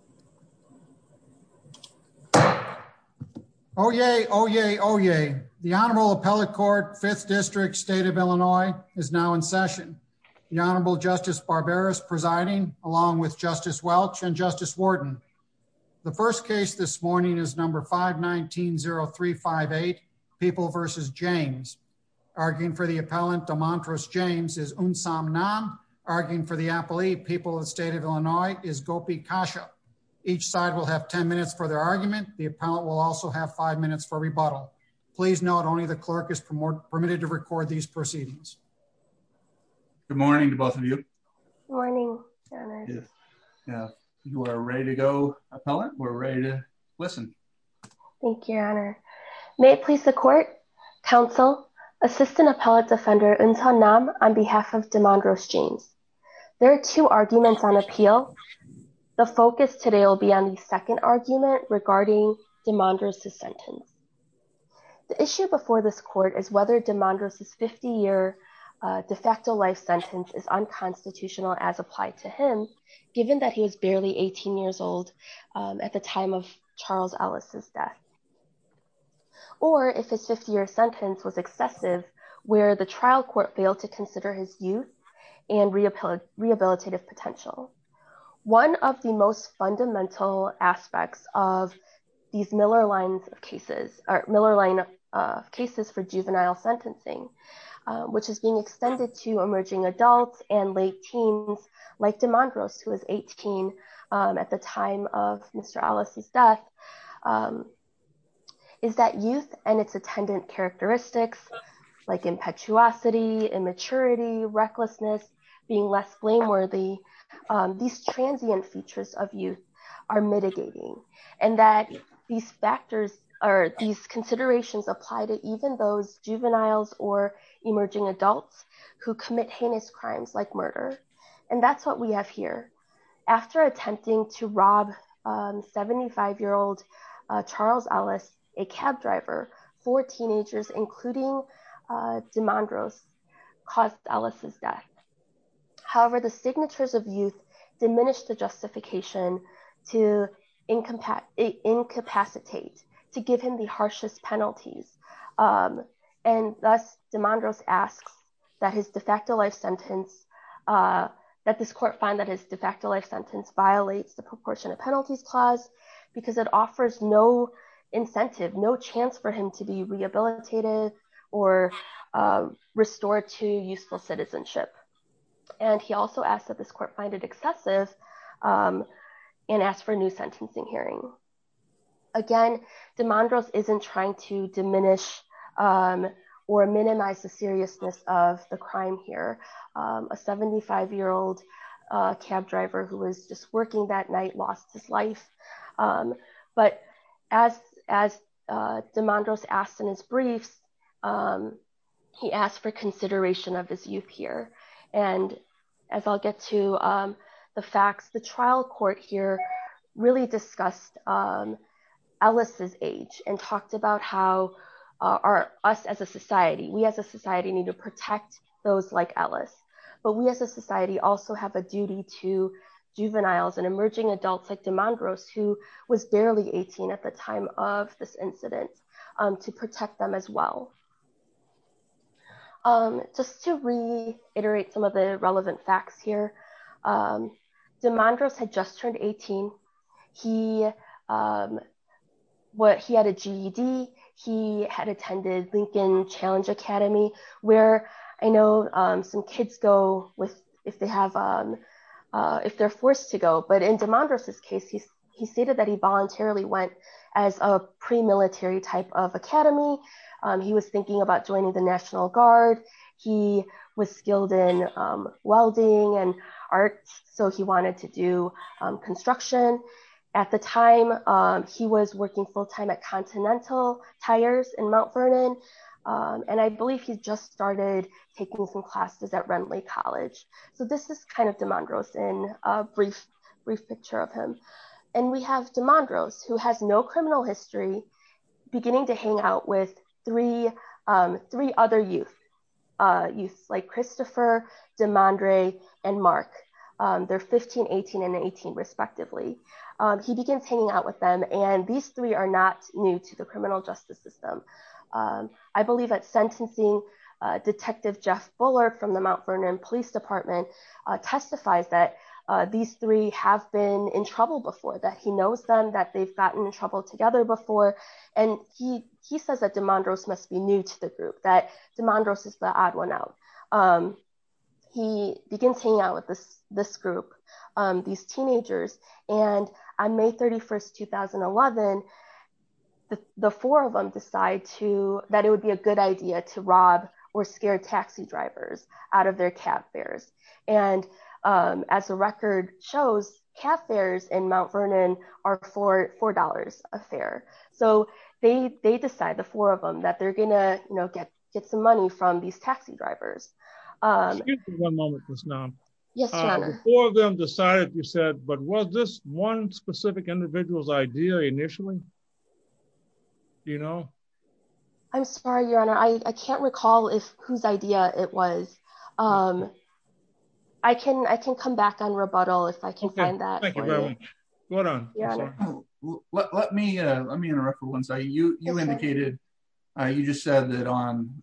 James. Oh, yeah. Oh, yeah. Oh, yeah. The Honorable Appellate Court, 5th District State of Illinois is now in session. The Honorable Justice Barbera is presiding along with Justice Welch and Justice Warden. The first case this morning is number 519-0358, People v. James. Arguing for the appellant, Damondros James, is Unsam Nam. Arguing for the appellee, People of the Each side will have 10 minutes for their argument. The appellant will also have five minutes for rebuttal. Please note only the clerk is permitted to record these proceedings. Good morning to both of you. Good morning, Your Honor. You are ready to go, Appellant. We're ready to listen. Thank you, Your Honor. May it please the Court, Council, Assistant Appellate Defender, Unsam Nam, on behalf of Damondros James. There are two arguments on appeal. The focus today will be on the second argument regarding Damondros' sentence. The issue before this Court is whether Damondros' 50-year de facto life sentence is unconstitutional as applied to him, given that he was barely 18 years old at the time of Charles Ellis' death. Or if his 50-year sentence was excessive, where the trial court failed to consider his youth and rehabilitative potential. One of the most fundamental aspects of these Miller line of cases for juvenile sentencing, which is being extended to emerging adults and late teens, like Damondros, who was 18 at the time of Mr. Ellis' death, is that youth and its attendant characteristics like impetuosity, immaturity, recklessness, being less blameworthy, these transient features of youth are mitigating. And that these considerations apply to even those juveniles or emerging adults who commit heinous crimes like murder. And that's what we have here. After attempting to rob 75-year-old Charles Ellis, a cab driver, four teenagers, including Damondros, caused Ellis' death. However, the signatures of youth diminished the justification to incapacitate, to give him the harshest penalties. And thus, Damondros asks that his de facto life clause, because it offers no incentive, no chance for him to be rehabilitated or restored to useful citizenship. And he also asked that this court find it excessive and ask for a new sentencing hearing. Again, Damondros isn't trying to diminish or minimize the seriousness of the crime here. A 75-year-old cab driver who was just working that night lost his life. But as Damondros asked in his briefs, he asked for consideration of his youth here. And as I'll get to the facts, the trial court here really discussed Ellis' age and talked about how our, us as a society, we as a society need to protect those like Ellis. But we as a society also have a duty to juveniles and emerging adults like Damondros, who was barely 18 at the time of this incident, to protect them as well. Just to reiterate some of the relevant facts here, Damondros had just turned 18. He had a GED. He had attended Lincoln Challenge Academy, where I know some kids go if they're forced to go. But in Damondros' case, he stated that he voluntarily went as a pre-military type of academy. He was thinking about joining the National Guard. He was skilled in welding and art, so he wanted to do construction. At the time, he was working full-time at Continental Tires in Mount Vernon. And I believe he just started taking some classes at Renly College. So this is kind of Damondros in a brief picture of him. And we have Damondros, who has no criminal They're 15, 18, and 18, respectively. He begins hanging out with them, and these three are not new to the criminal justice system. I believe that sentencing detective Jeff Buller from the Mount Vernon Police Department testifies that these three have been in trouble before, that he knows them, that they've gotten in trouble together before. And he says that Damondros must be new to the group, that Damondros is the odd one out. He begins hanging out with this group, these teenagers. And on May 31, 2011, the four of them decide that it would be a good idea to rob or scare taxi drivers out of their cab fares. And as the record shows, cab fares in Mount Vernon are $4 a fare. So they decide, the four of them, that they're going to get some money from these taxi drivers. Excuse me one moment, Ms. Nam. Yes, Your Honor. The four of them decided, you said, but was this one specific individual's idea initially? Do you know? I'm sorry, Your Honor. I can't recall whose idea it was. I can come back on rebuttal if I can find that. Let me interrupt for one second. You indicated, you just said that on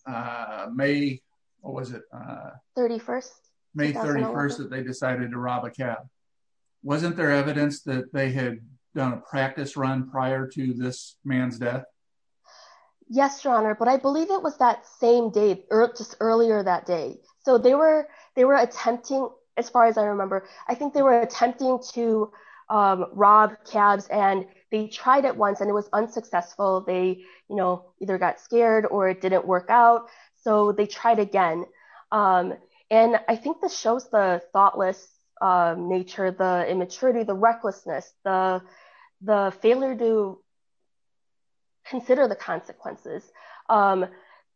May, what was it? 31st. May 31st that they decided to rob a cab. Wasn't there evidence that they had done a practice run prior to this man's death? Yes, Your Honor. But I believe it was that same day, just earlier that day. So they were attempting, as far as I remember, I think they were attempting to rob cabs and they tried it once and it was unsuccessful. They either got scared or it didn't work out. So they tried again. And I think this shows the thoughtless nature, the immaturity, the recklessness, the failure to consider the consequences, the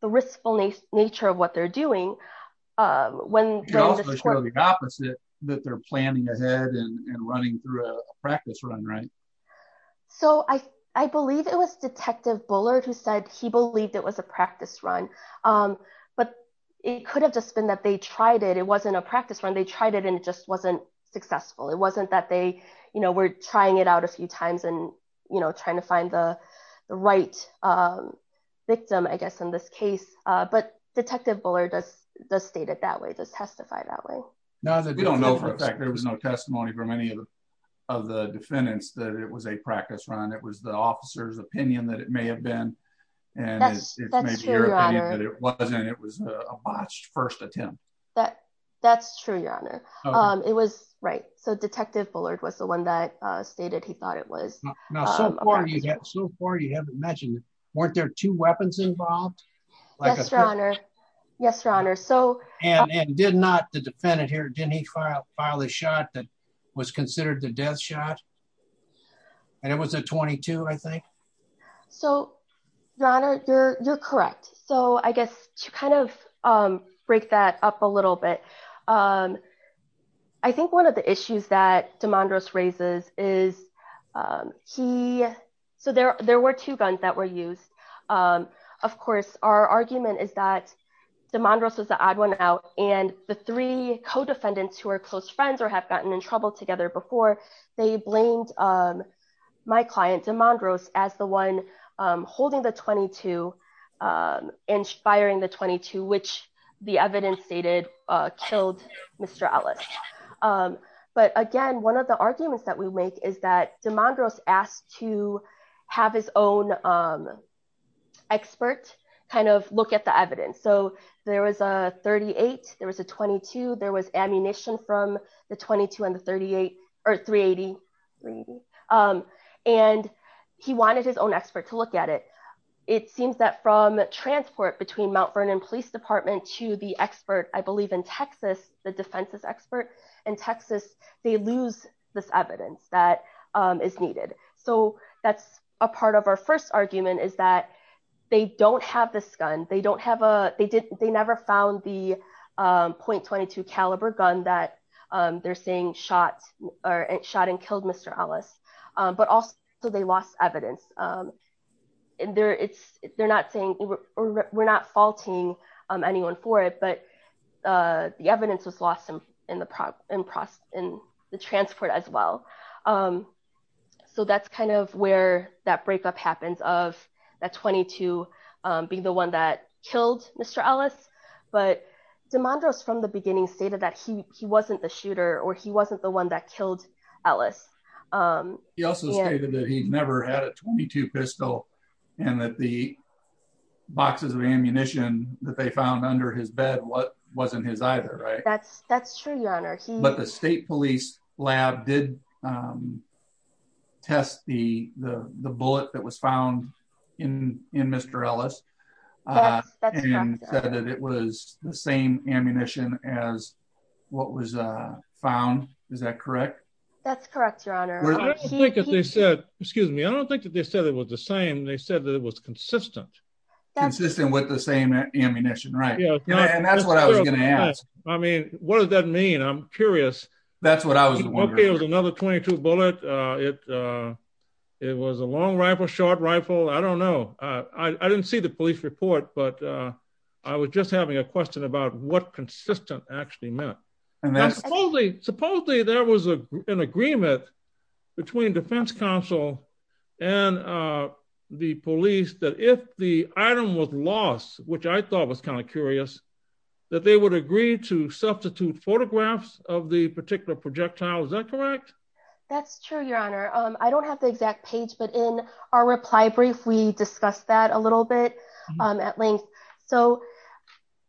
riskful nature of what they're doing. It also shows the opposite, that they're planning ahead and running through a practice run, right? So I believe it was Detective Bullard who said he believed it was a practice run, but it could have just been that they tried it. It wasn't a practice run. They tried it and it just wasn't successful. It wasn't that they were trying it out a few times and trying to find the right victim, I guess, in this case. But Detective Bullard does state it that way, does testify that way. We don't know for a fact. There was no testimony from any of the defendants that it was a practice run. It was the officer's opinion that it may have been. And it's maybe your opinion that it was a botched first attempt. That's true, Your Honor. It was, right. So Detective Bullard was the one that stated he thought it was. Now, so far you haven't mentioned, weren't there two weapons involved? Yes, Your Honor. Yes, Your Honor. And did not the defendant here, didn't he file a shot that was considered the death shot? And it was a .22, I think? So, Your Honor, you're correct. So I guess to kind of break that up a little bit, I think one of the issues that DeMondros raises is he, so there were two guns that were used. Of course, our argument is that DeMondros was the odd one out and the three co-defendants who are close friends or have gotten in trouble together before, they blamed my client, DeMondros, as the one holding the .22 and firing the .22, which the evidence stated killed Mr. Ellis. But again, one of the arguments that we make is that DeMondros asked to have his own expert kind of look at the evidence. So there was a .38, there was a .22, there was ammunition from the .22 and the .38, or .380, .380. And he wanted his own expert to look at it. It seems that from transport between Mount Vernon Police Department to the expert, I believe in Texas, the defense's expert in Texas, they lose this evidence that is needed. So that's a part of our first argument is that they don't have this gun. They don't have a, they didn't, they never found the .22 caliber gun that they're saying or shot and killed Mr. Ellis, but also they lost evidence. And they're, it's, they're not saying, we're not faulting anyone for it, but the evidence was lost in the transport as well. So that's kind of where that breakup happens of that .22 being the one that killed Mr. Ellis. But DeMondros from the beginning stated that he wasn't the shooter or he wasn't the one that killed Ellis. He also stated that he'd never had a .22 pistol and that the boxes of ammunition that they found under his bed wasn't his either, right? That's true, your honor. But the state was the same ammunition as what was found. Is that correct? That's correct, your honor. Excuse me. I don't think that they said it was the same. They said that it was consistent. Consistent with the same ammunition, right? And that's what I was going to ask. I mean, what does that mean? I'm curious. That's what I was wondering. Another .22 bullet. It, it was a long rifle, short rifle. I don't know. I didn't see the police report, but I was just having a question about what consistent actually meant. Supposedly there was an agreement between defense council and the police that if the item was lost, which I thought was kind of curious, that they would agree to substitute photographs of the particular projectile. Is that correct? That's true, your honor. I don't have the exact page, but in our reply brief, we discussed that a little bit at length. So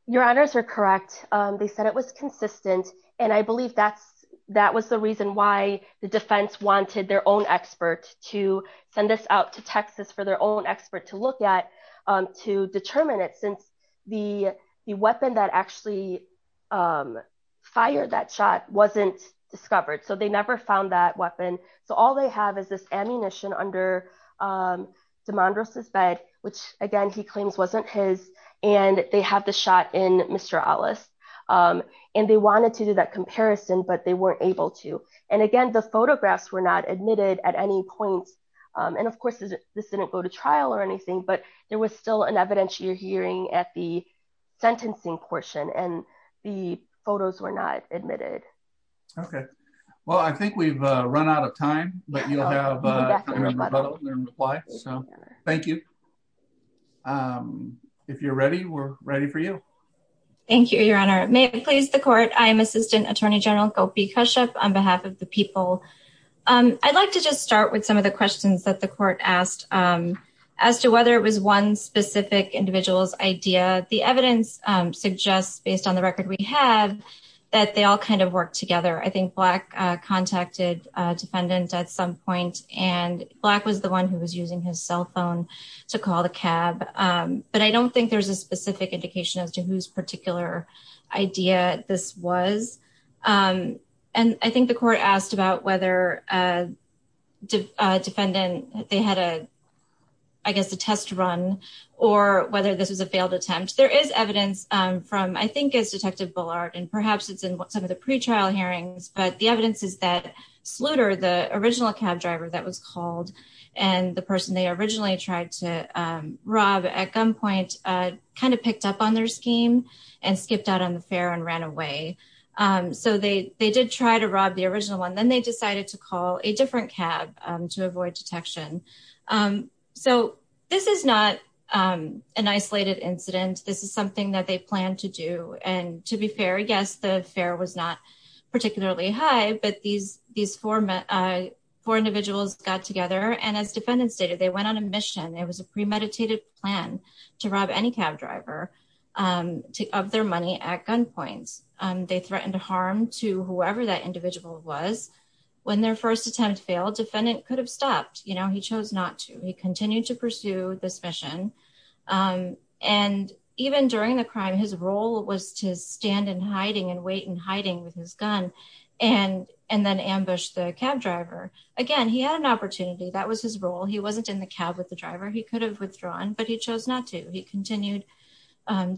your honors are correct. They said it was consistent. And I believe that's, that was the reason why the defense wanted their own expert to send this out to Texas for their own expert to look at, to determine it since the weapon that actually fired that shot wasn't discovered. So they never found that weapon. So all they have is this ammunition under DeMondros' bed, which again, he claims wasn't his and they have the shot in Mr. Ellis. And they wanted to do that comparison, but they weren't able to. And again, the photographs were not admitted at any point. And of course this didn't go to trial or anything, but there was still an evidentiary hearing at the sentencing portion and the photos were not admitted. Okay. Well, I think we've run out of time, but you'll have a reply. So thank you. If you're ready, we're ready for you. Thank you, your honor. May it please the court. I am Assistant Attorney General Gopi Kashyap on behalf of the people. I'd like to just start with some of the questions that the court asked as to whether it was one specific individual's idea. The evidence suggests based on the record we have, that they all kind of worked together. I think Black contacted a defendant at some point and Black was the one who was using his cell phone to call the cab. But I don't think there's a specific indication as to whose particular idea this was. And I think the court asked about whether a defendant, they had a, a test run or whether this was a failed attempt. There is evidence from, I think it's detective Bullard and perhaps it's in some of the pretrial hearings, but the evidence is that Sluder, the original cab driver that was called and the person they originally tried to rob at gunpoint kind of picked up on their scheme and skipped out on the fair and ran away. So they, they did try to rob the original one. Then they decided to call a different cab to avoid detection. So this is not an isolated incident. This is something that they planned to do. And to be fair, yes, the fare was not particularly high, but these, these four, four individuals got together. And as defendants stated, they went on a mission. It was a premeditated plan to rob any cab driver of their money at gunpoints. They threatened to harm to whoever that individual was. When their first attempt failed, defendant could have stopped, you know, he chose not to, he continued to pursue this mission. And even during the crime, his role was to stand in hiding and wait in hiding with his gun and, and then ambush the cab driver. Again, he had an opportunity. That was his role. He wasn't in the cab with the driver. He could have withdrawn, but he chose not to. He continued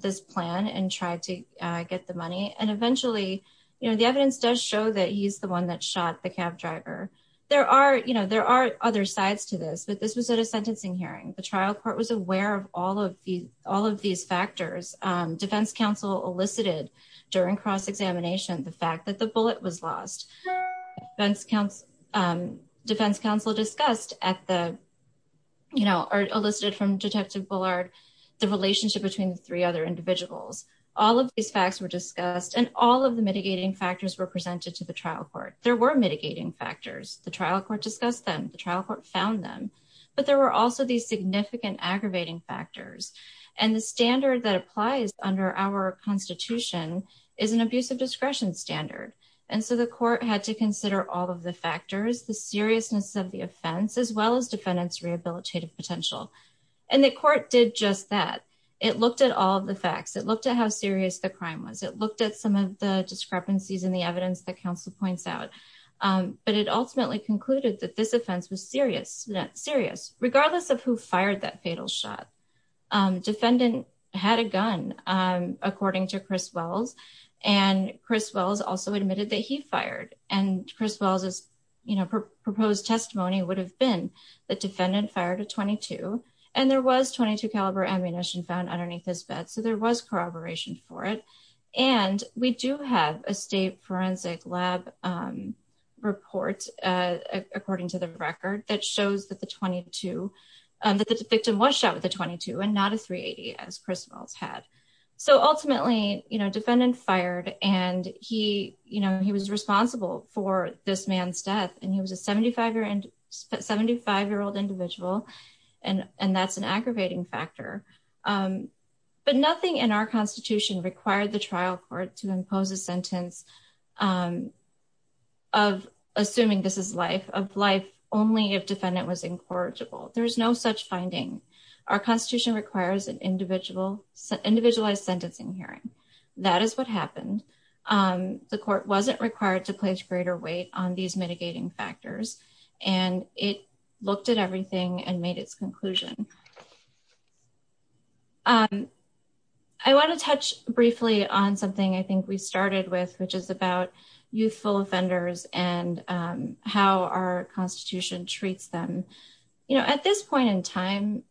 this plan and tried to get the money. And eventually, you know, the evidence does show that he's the one that shot the cab driver. There are, you know, there are other sides to this, but this was at a sentencing hearing. The trial court was aware of all of these, all of these factors. Defense counsel elicited during cross-examination, the fact that the bullet was lost. Defense counsel, defense counsel discussed at the, you know, or elicited from detective Bullard, the relationship between the three other individuals. All of these facts were discussed and all of the mitigating factors were presented to the trial court. There were mitigating factors. The trial court discussed them, the trial court found them, but there were also these significant aggravating factors. And the standard that applies under our constitution is an abusive discretion standard. And so the court had to consider all of the factors, the seriousness of the offense, as well as defendant's rehabilitative potential. And the court did just that. It looked at all of the facts. It looked at how serious the crime was. It looked at some of the discrepancies in the evidence that counsel points out. But it ultimately concluded that this offense was serious, not serious, regardless of who fired that fatal shot. Defendant had a gun, according to Chris Wells. And Chris Wells also admitted that he fired. And Chris Wells' proposed testimony would have been the defendant fired a 22 and there was 22 caliber ammunition found underneath his bed. So there was corroboration for it. And we do have a state forensic lab report according to the record that shows that the victim was shot with a 22 and not a 380 as Chris Wells had. So ultimately, defendant fired and he was responsible for this man's death and he was a 75-year-old individual. And that's an aggravating factor. But nothing in our constitution required the trial court to impose a sentence of assuming this is life, of life only if defendant was incorrigible. There's no such finding. Our constitution requires an individualized sentencing hearing. That is what and it looked at everything and made its conclusion. I want to touch briefly on something I think we started with, which is about youthful offenders and how our constitution treats them. You know, at this point in time,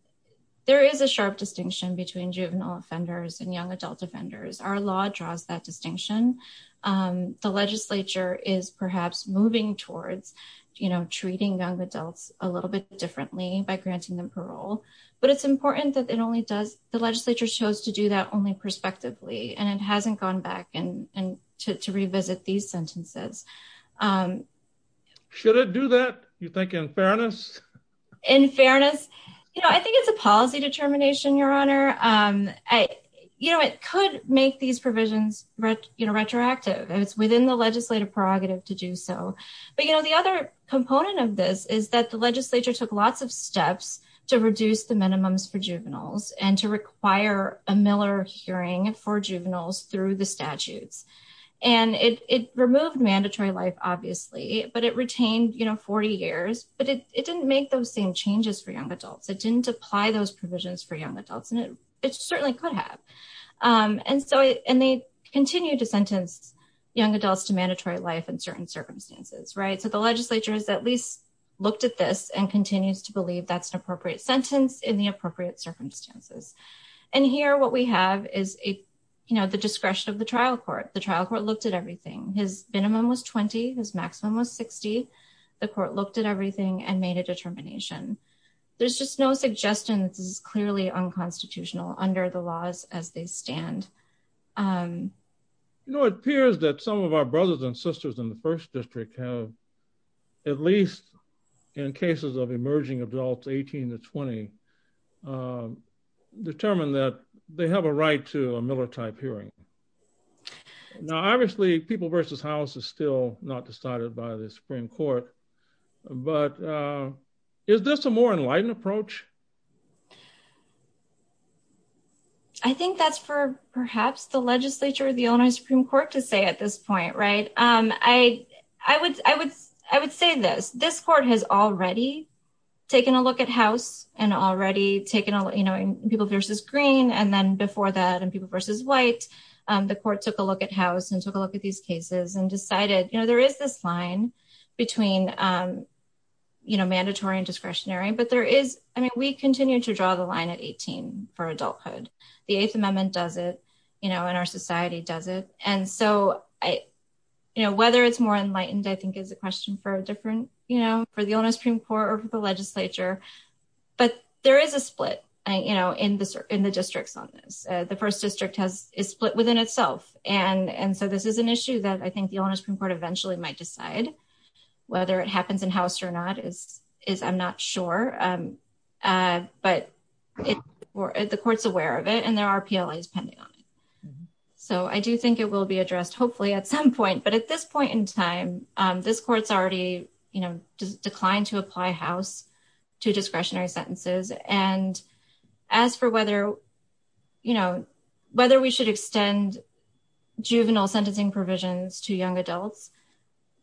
there is a sharp distinction between juvenile offenders and young adult offenders. Our law draws that distinction. The legislature is perhaps moving towards, you know, treating young adults a little bit differently by granting them parole. But it's important that it only does, the legislature chose to do that only prospectively and it hasn't gone back and to revisit these sentences. Should it do that? You think in fairness? In fairness, you know, I think it's a provisions, you know, retroactive. It's within the legislative prerogative to do so. But, you know, the other component of this is that the legislature took lots of steps to reduce the minimums for juveniles and to require a Miller hearing for juveniles through the statutes. And it removed mandatory life, obviously, but it retained, you know, 40 years, but it didn't make those same changes for young adults. It didn't apply those provisions for young adults and it certainly could And so, and they continue to sentence young adults to mandatory life in certain circumstances, right? So the legislature has at least looked at this and continues to believe that's an appropriate sentence in the appropriate circumstances. And here, what we have is a, you know, the discretion of the trial court. The trial court looked at everything. His minimum was 20. His maximum was 60. The court looked at everything and made a determination. There's just no suggestion that this is clearly unconstitutional under the laws as they stand. You know, it appears that some of our brothers and sisters in the first district have, at least in cases of emerging adults, 18 to 20, determined that they have a right to a Miller-type hearing. Now, obviously, people versus house is still not decided by the Supreme Court, but is this a more enlightened approach? I think that's for perhaps the legislature of the Illinois Supreme Court to say at this point, right? I would say this. This court has already taken a look at house and already taken, you know, people versus green and then before that and people versus white. The court took a look at between, you know, mandatory and discretionary, but there is, I mean, we continue to draw the line at 18 for adulthood. The Eighth Amendment does it, you know, in our society does it. And so, you know, whether it's more enlightened, I think is a question for a different, you know, for the Illinois Supreme Court or for the legislature, but there is a split, you know, in the districts on this. The first district is split within itself. And so, this is an issue that I think the Illinois Supreme Court eventually might decide whether it happens in house or not is I'm not sure, but the court's aware of it and there are PLAs pending on it. So, I do think it will be addressed hopefully at some point, but at this point in time, this court's already, you know, declined to apply house to discretionary sentences. And as for whether, you know, whether we should extend juvenile sentencing provisions to young adults,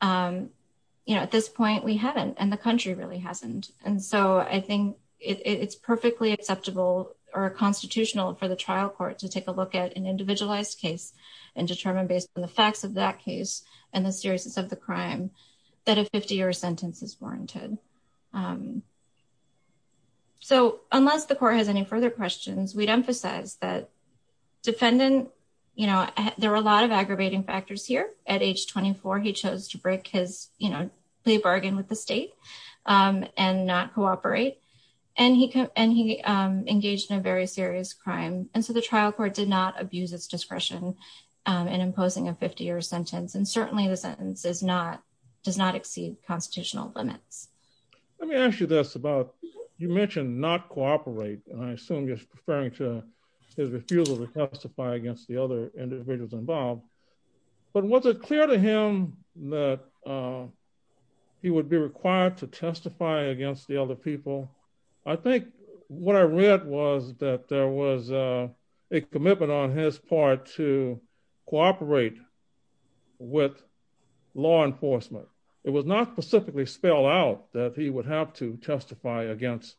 you know, at this point we haven't and the country really hasn't. And so, I think it's perfectly acceptable or constitutional for the trial court to take a look at an individualized case and determine based on the facts of that case and the seriousness of the crime that a 50-year sentence is warranted. So, unless the court has any further questions, we'd emphasize that defendant, you know, there were a lot of aggravating factors here. At age 24, he chose to break his, you know, play bargain with the state and not cooperate. And he engaged in a very serious crime. And so, the trial court did not abuse its discretion in imposing a 50-year sentence. And certainly the sentence does not exceed constitutional limits. Let me ask you this about, you mentioned not cooperate, and I assume you're referring to his refusal to testify against the other individuals involved. But was it clear to him that he would be required to testify against the other people? I think what I read was that there was a commitment on his part to cooperate with law enforcement. It was not specifically spelled out that he would have to testify against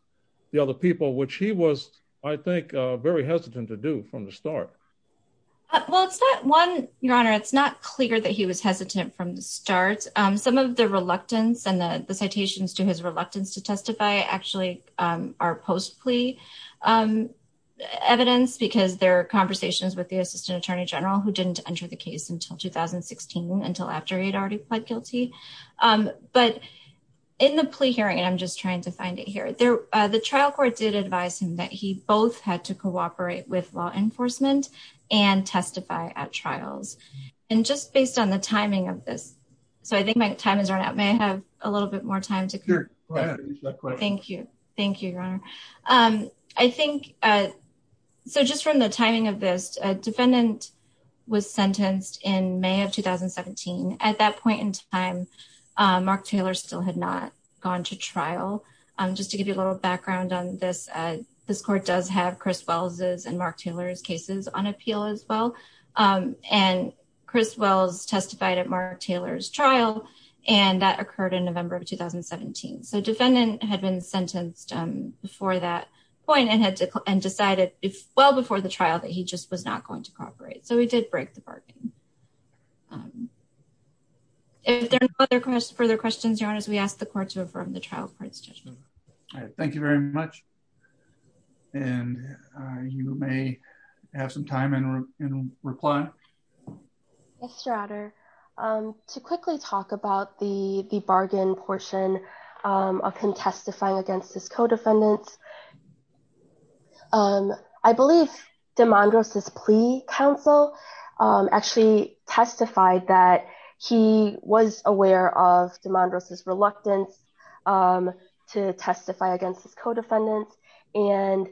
the other people, which he was, I think, very hesitant to do from the start. Well, it's not one, Your Honor, it's not clear that he was hesitant from the start. Some of the reluctance and the citations to his reluctance to testify actually are post-plea evidence, because there are conversations with the assistant attorney general who didn't enter the case until 2016, until after he had already pled guilty. But in the plea hearing, and I'm just trying to find it here, the trial court did advise him that he both had to cooperate with law enforcement and testify at trials. And just based on the timing of this, so I think my time has run out. May I have a little bit more time? Sure, go ahead. Thank you. Thank you, Your Honor. I think, so just from the timing of this, a defendant was sentenced in May of 2017. At that point in time, Mark Taylor still had not gone to trial. Just to give you a little background on this, this court does have Chris Wells's and Mark Taylor's cases on appeal as well. And Chris Wells testified at Mark Taylor's trial, and that occurred in November of 2017. So defendant had been sentenced before that point and had to, and decided well before the trial that he just was not going to cooperate. So he did break the bargain. If there are no further questions, Your Honor, we ask the court to affirm the trial court's judgment. All right, thank you very much. And you may have some time and reply. Thanks, Your Honor. To quickly talk about the bargain portion of him testifying against his co-defendants, I believe DeMondros' plea counsel actually testified that he was aware of DeMondros' reluctance to testify against his co-defendants. And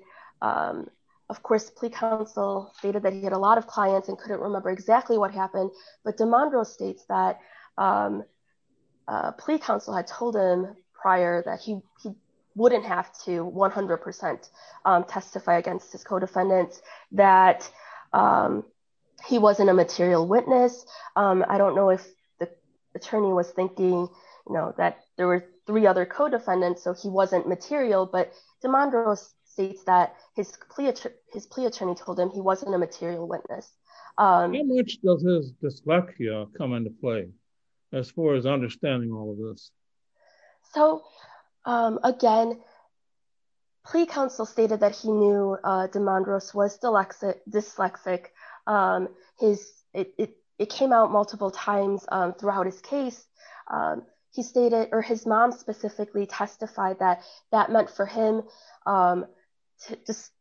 of course, plea counsel stated that he had a lot of clients and couldn't remember exactly what happened. But DeMondros states that plea counsel had told him prior that he wouldn't have to 100% testify against his co-defendants, that he wasn't a material witness. I don't know if the attorney was thinking that there were three other co-defendants, so he wasn't material, but DeMondros states that his plea attorney told him he wasn't a material witness. In which does dyslexia come into play as far as understanding all of this? So again, plea counsel stated that he knew DeMondros was dyslexic. It came out multiple times throughout his case. His mom specifically testified that that meant for him,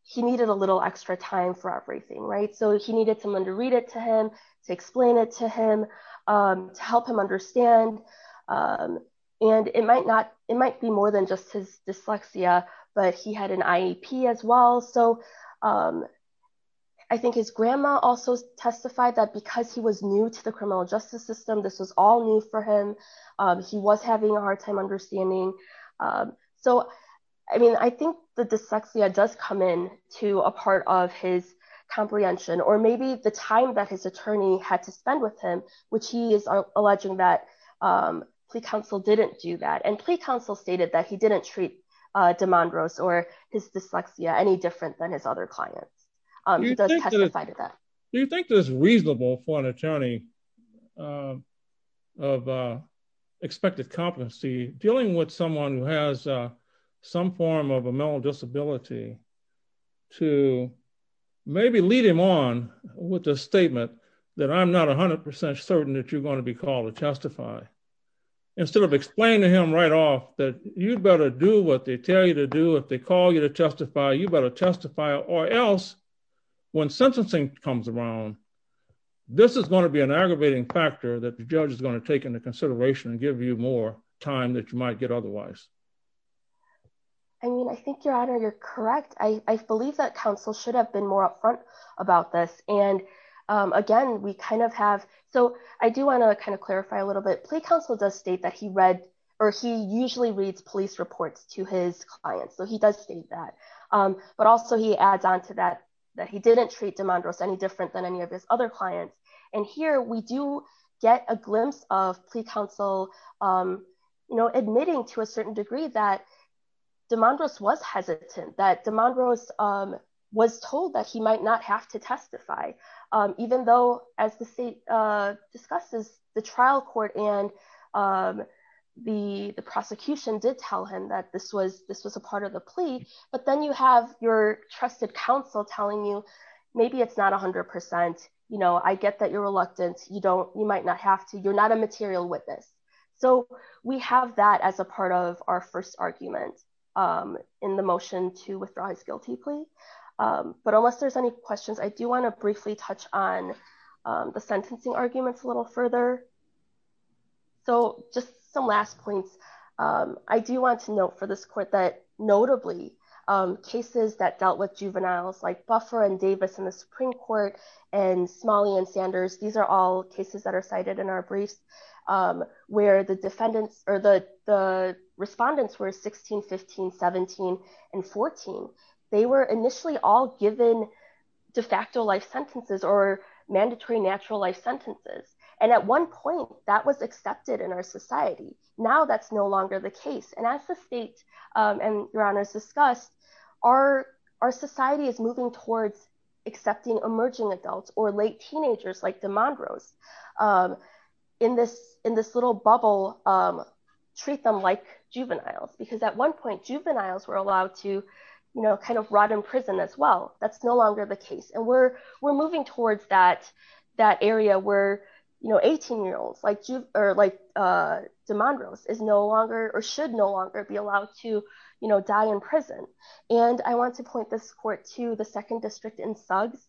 he needed a little extra time for everything. So he needed someone to read it to him, to explain it to him, to help him understand. And it might be more than just his dyslexia, but he had an IEP as well. So I think his grandma also testified that because he was new to the criminal justice system, this was all new for him. He was having a hard time understanding. So, I mean, I think the dyslexia does come in to a part of his comprehension, or maybe the time that his attorney had to spend with him, which he is alleging that plea counsel didn't do that. And plea counsel stated that he didn't treat DeMondros or his dyslexia any different than other clients. He does testify to that. Do you think it's reasonable for an attorney of expected competency dealing with someone who has some form of a mental disability to maybe lead him on with a statement that I'm not a hundred percent certain that you're going to be called to testify, instead of explaining to him right off that you'd better do what they tell you to do. If they call you to testify, you better testify or else when sentencing comes around, this is going to be an aggravating factor that the judge is going to take into consideration and give you more time that you might get otherwise. I mean, I think your honor, you're correct. I believe that counsel should have been more upfront about this. And again, we kind of have, so I do want to kind of clarify a little bit. Plea counsel does state that he read, or he usually reads police reports to his clients. So he does state that, but also he adds on to that, that he didn't treat DeMondros any different than any of his other clients. And here we do get a glimpse of plea counsel, admitting to a certain degree that DeMondros was hesitant, that DeMondros was told that he might not have to testify. Even though as the state discusses the trial court and the prosecution did tell him that this was a part of the plea, but then you have your trusted counsel telling you, maybe it's not a hundred percent. I get that you're reluctant. You don't, you might not have to, you're not a material witness. So we have that as a part of our first argument in the motion to withdraw his guilty plea. But unless there's any questions, I do want to briefly touch on the sentencing arguments a little further. So just some last points. I do want to note for this court that notably cases that dealt with juveniles like Buffer and Davis and the Supreme court and Smalley and Sanders, these are all cases that are cited in our briefs where the defendants or the respondents were 16, 17, and 14. They were initially all given de facto life sentences or mandatory natural life sentences. And at one point that was accepted in our society. Now that's no longer the case. And as the state and your honors discussed, our, our society is moving towards accepting emerging adults or late teenagers like DeMondros in this, in this little bubble, treat them like juveniles, because at one point juveniles were allowed to, you know, kind of rot in prison as well. That's no longer the case. And we're, we're moving towards that, that area where, you know, 18 year olds like you or like DeMondros is no longer, or should no longer be allowed to, you know, die in prison. And I want to point this court to the second district in Suggs.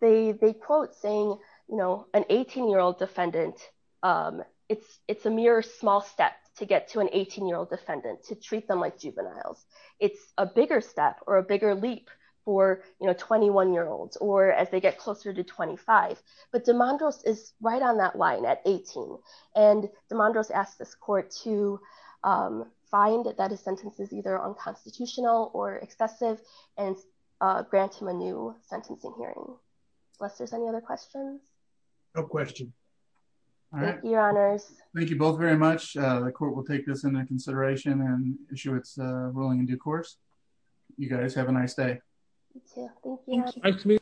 They, they quote saying, you know, an 18 year old defendant, um, it's, it's a mere small step to get to an 18 year old defendant to treat them like juveniles. It's a bigger step or a bigger leap for, you know, 21 year olds, or as they get closer to 25, but DeMondros is right on that line at 18. And DeMondros asked this court to, um, find that his sentence is either unconstitutional or excessive and, uh, grant him a new sentencing hearing. Unless there's any other questions. No question. All right. Your honors. Thank you both very much. The court will take this into consideration and issue its ruling in due course. You guys have a nice day. Thank you.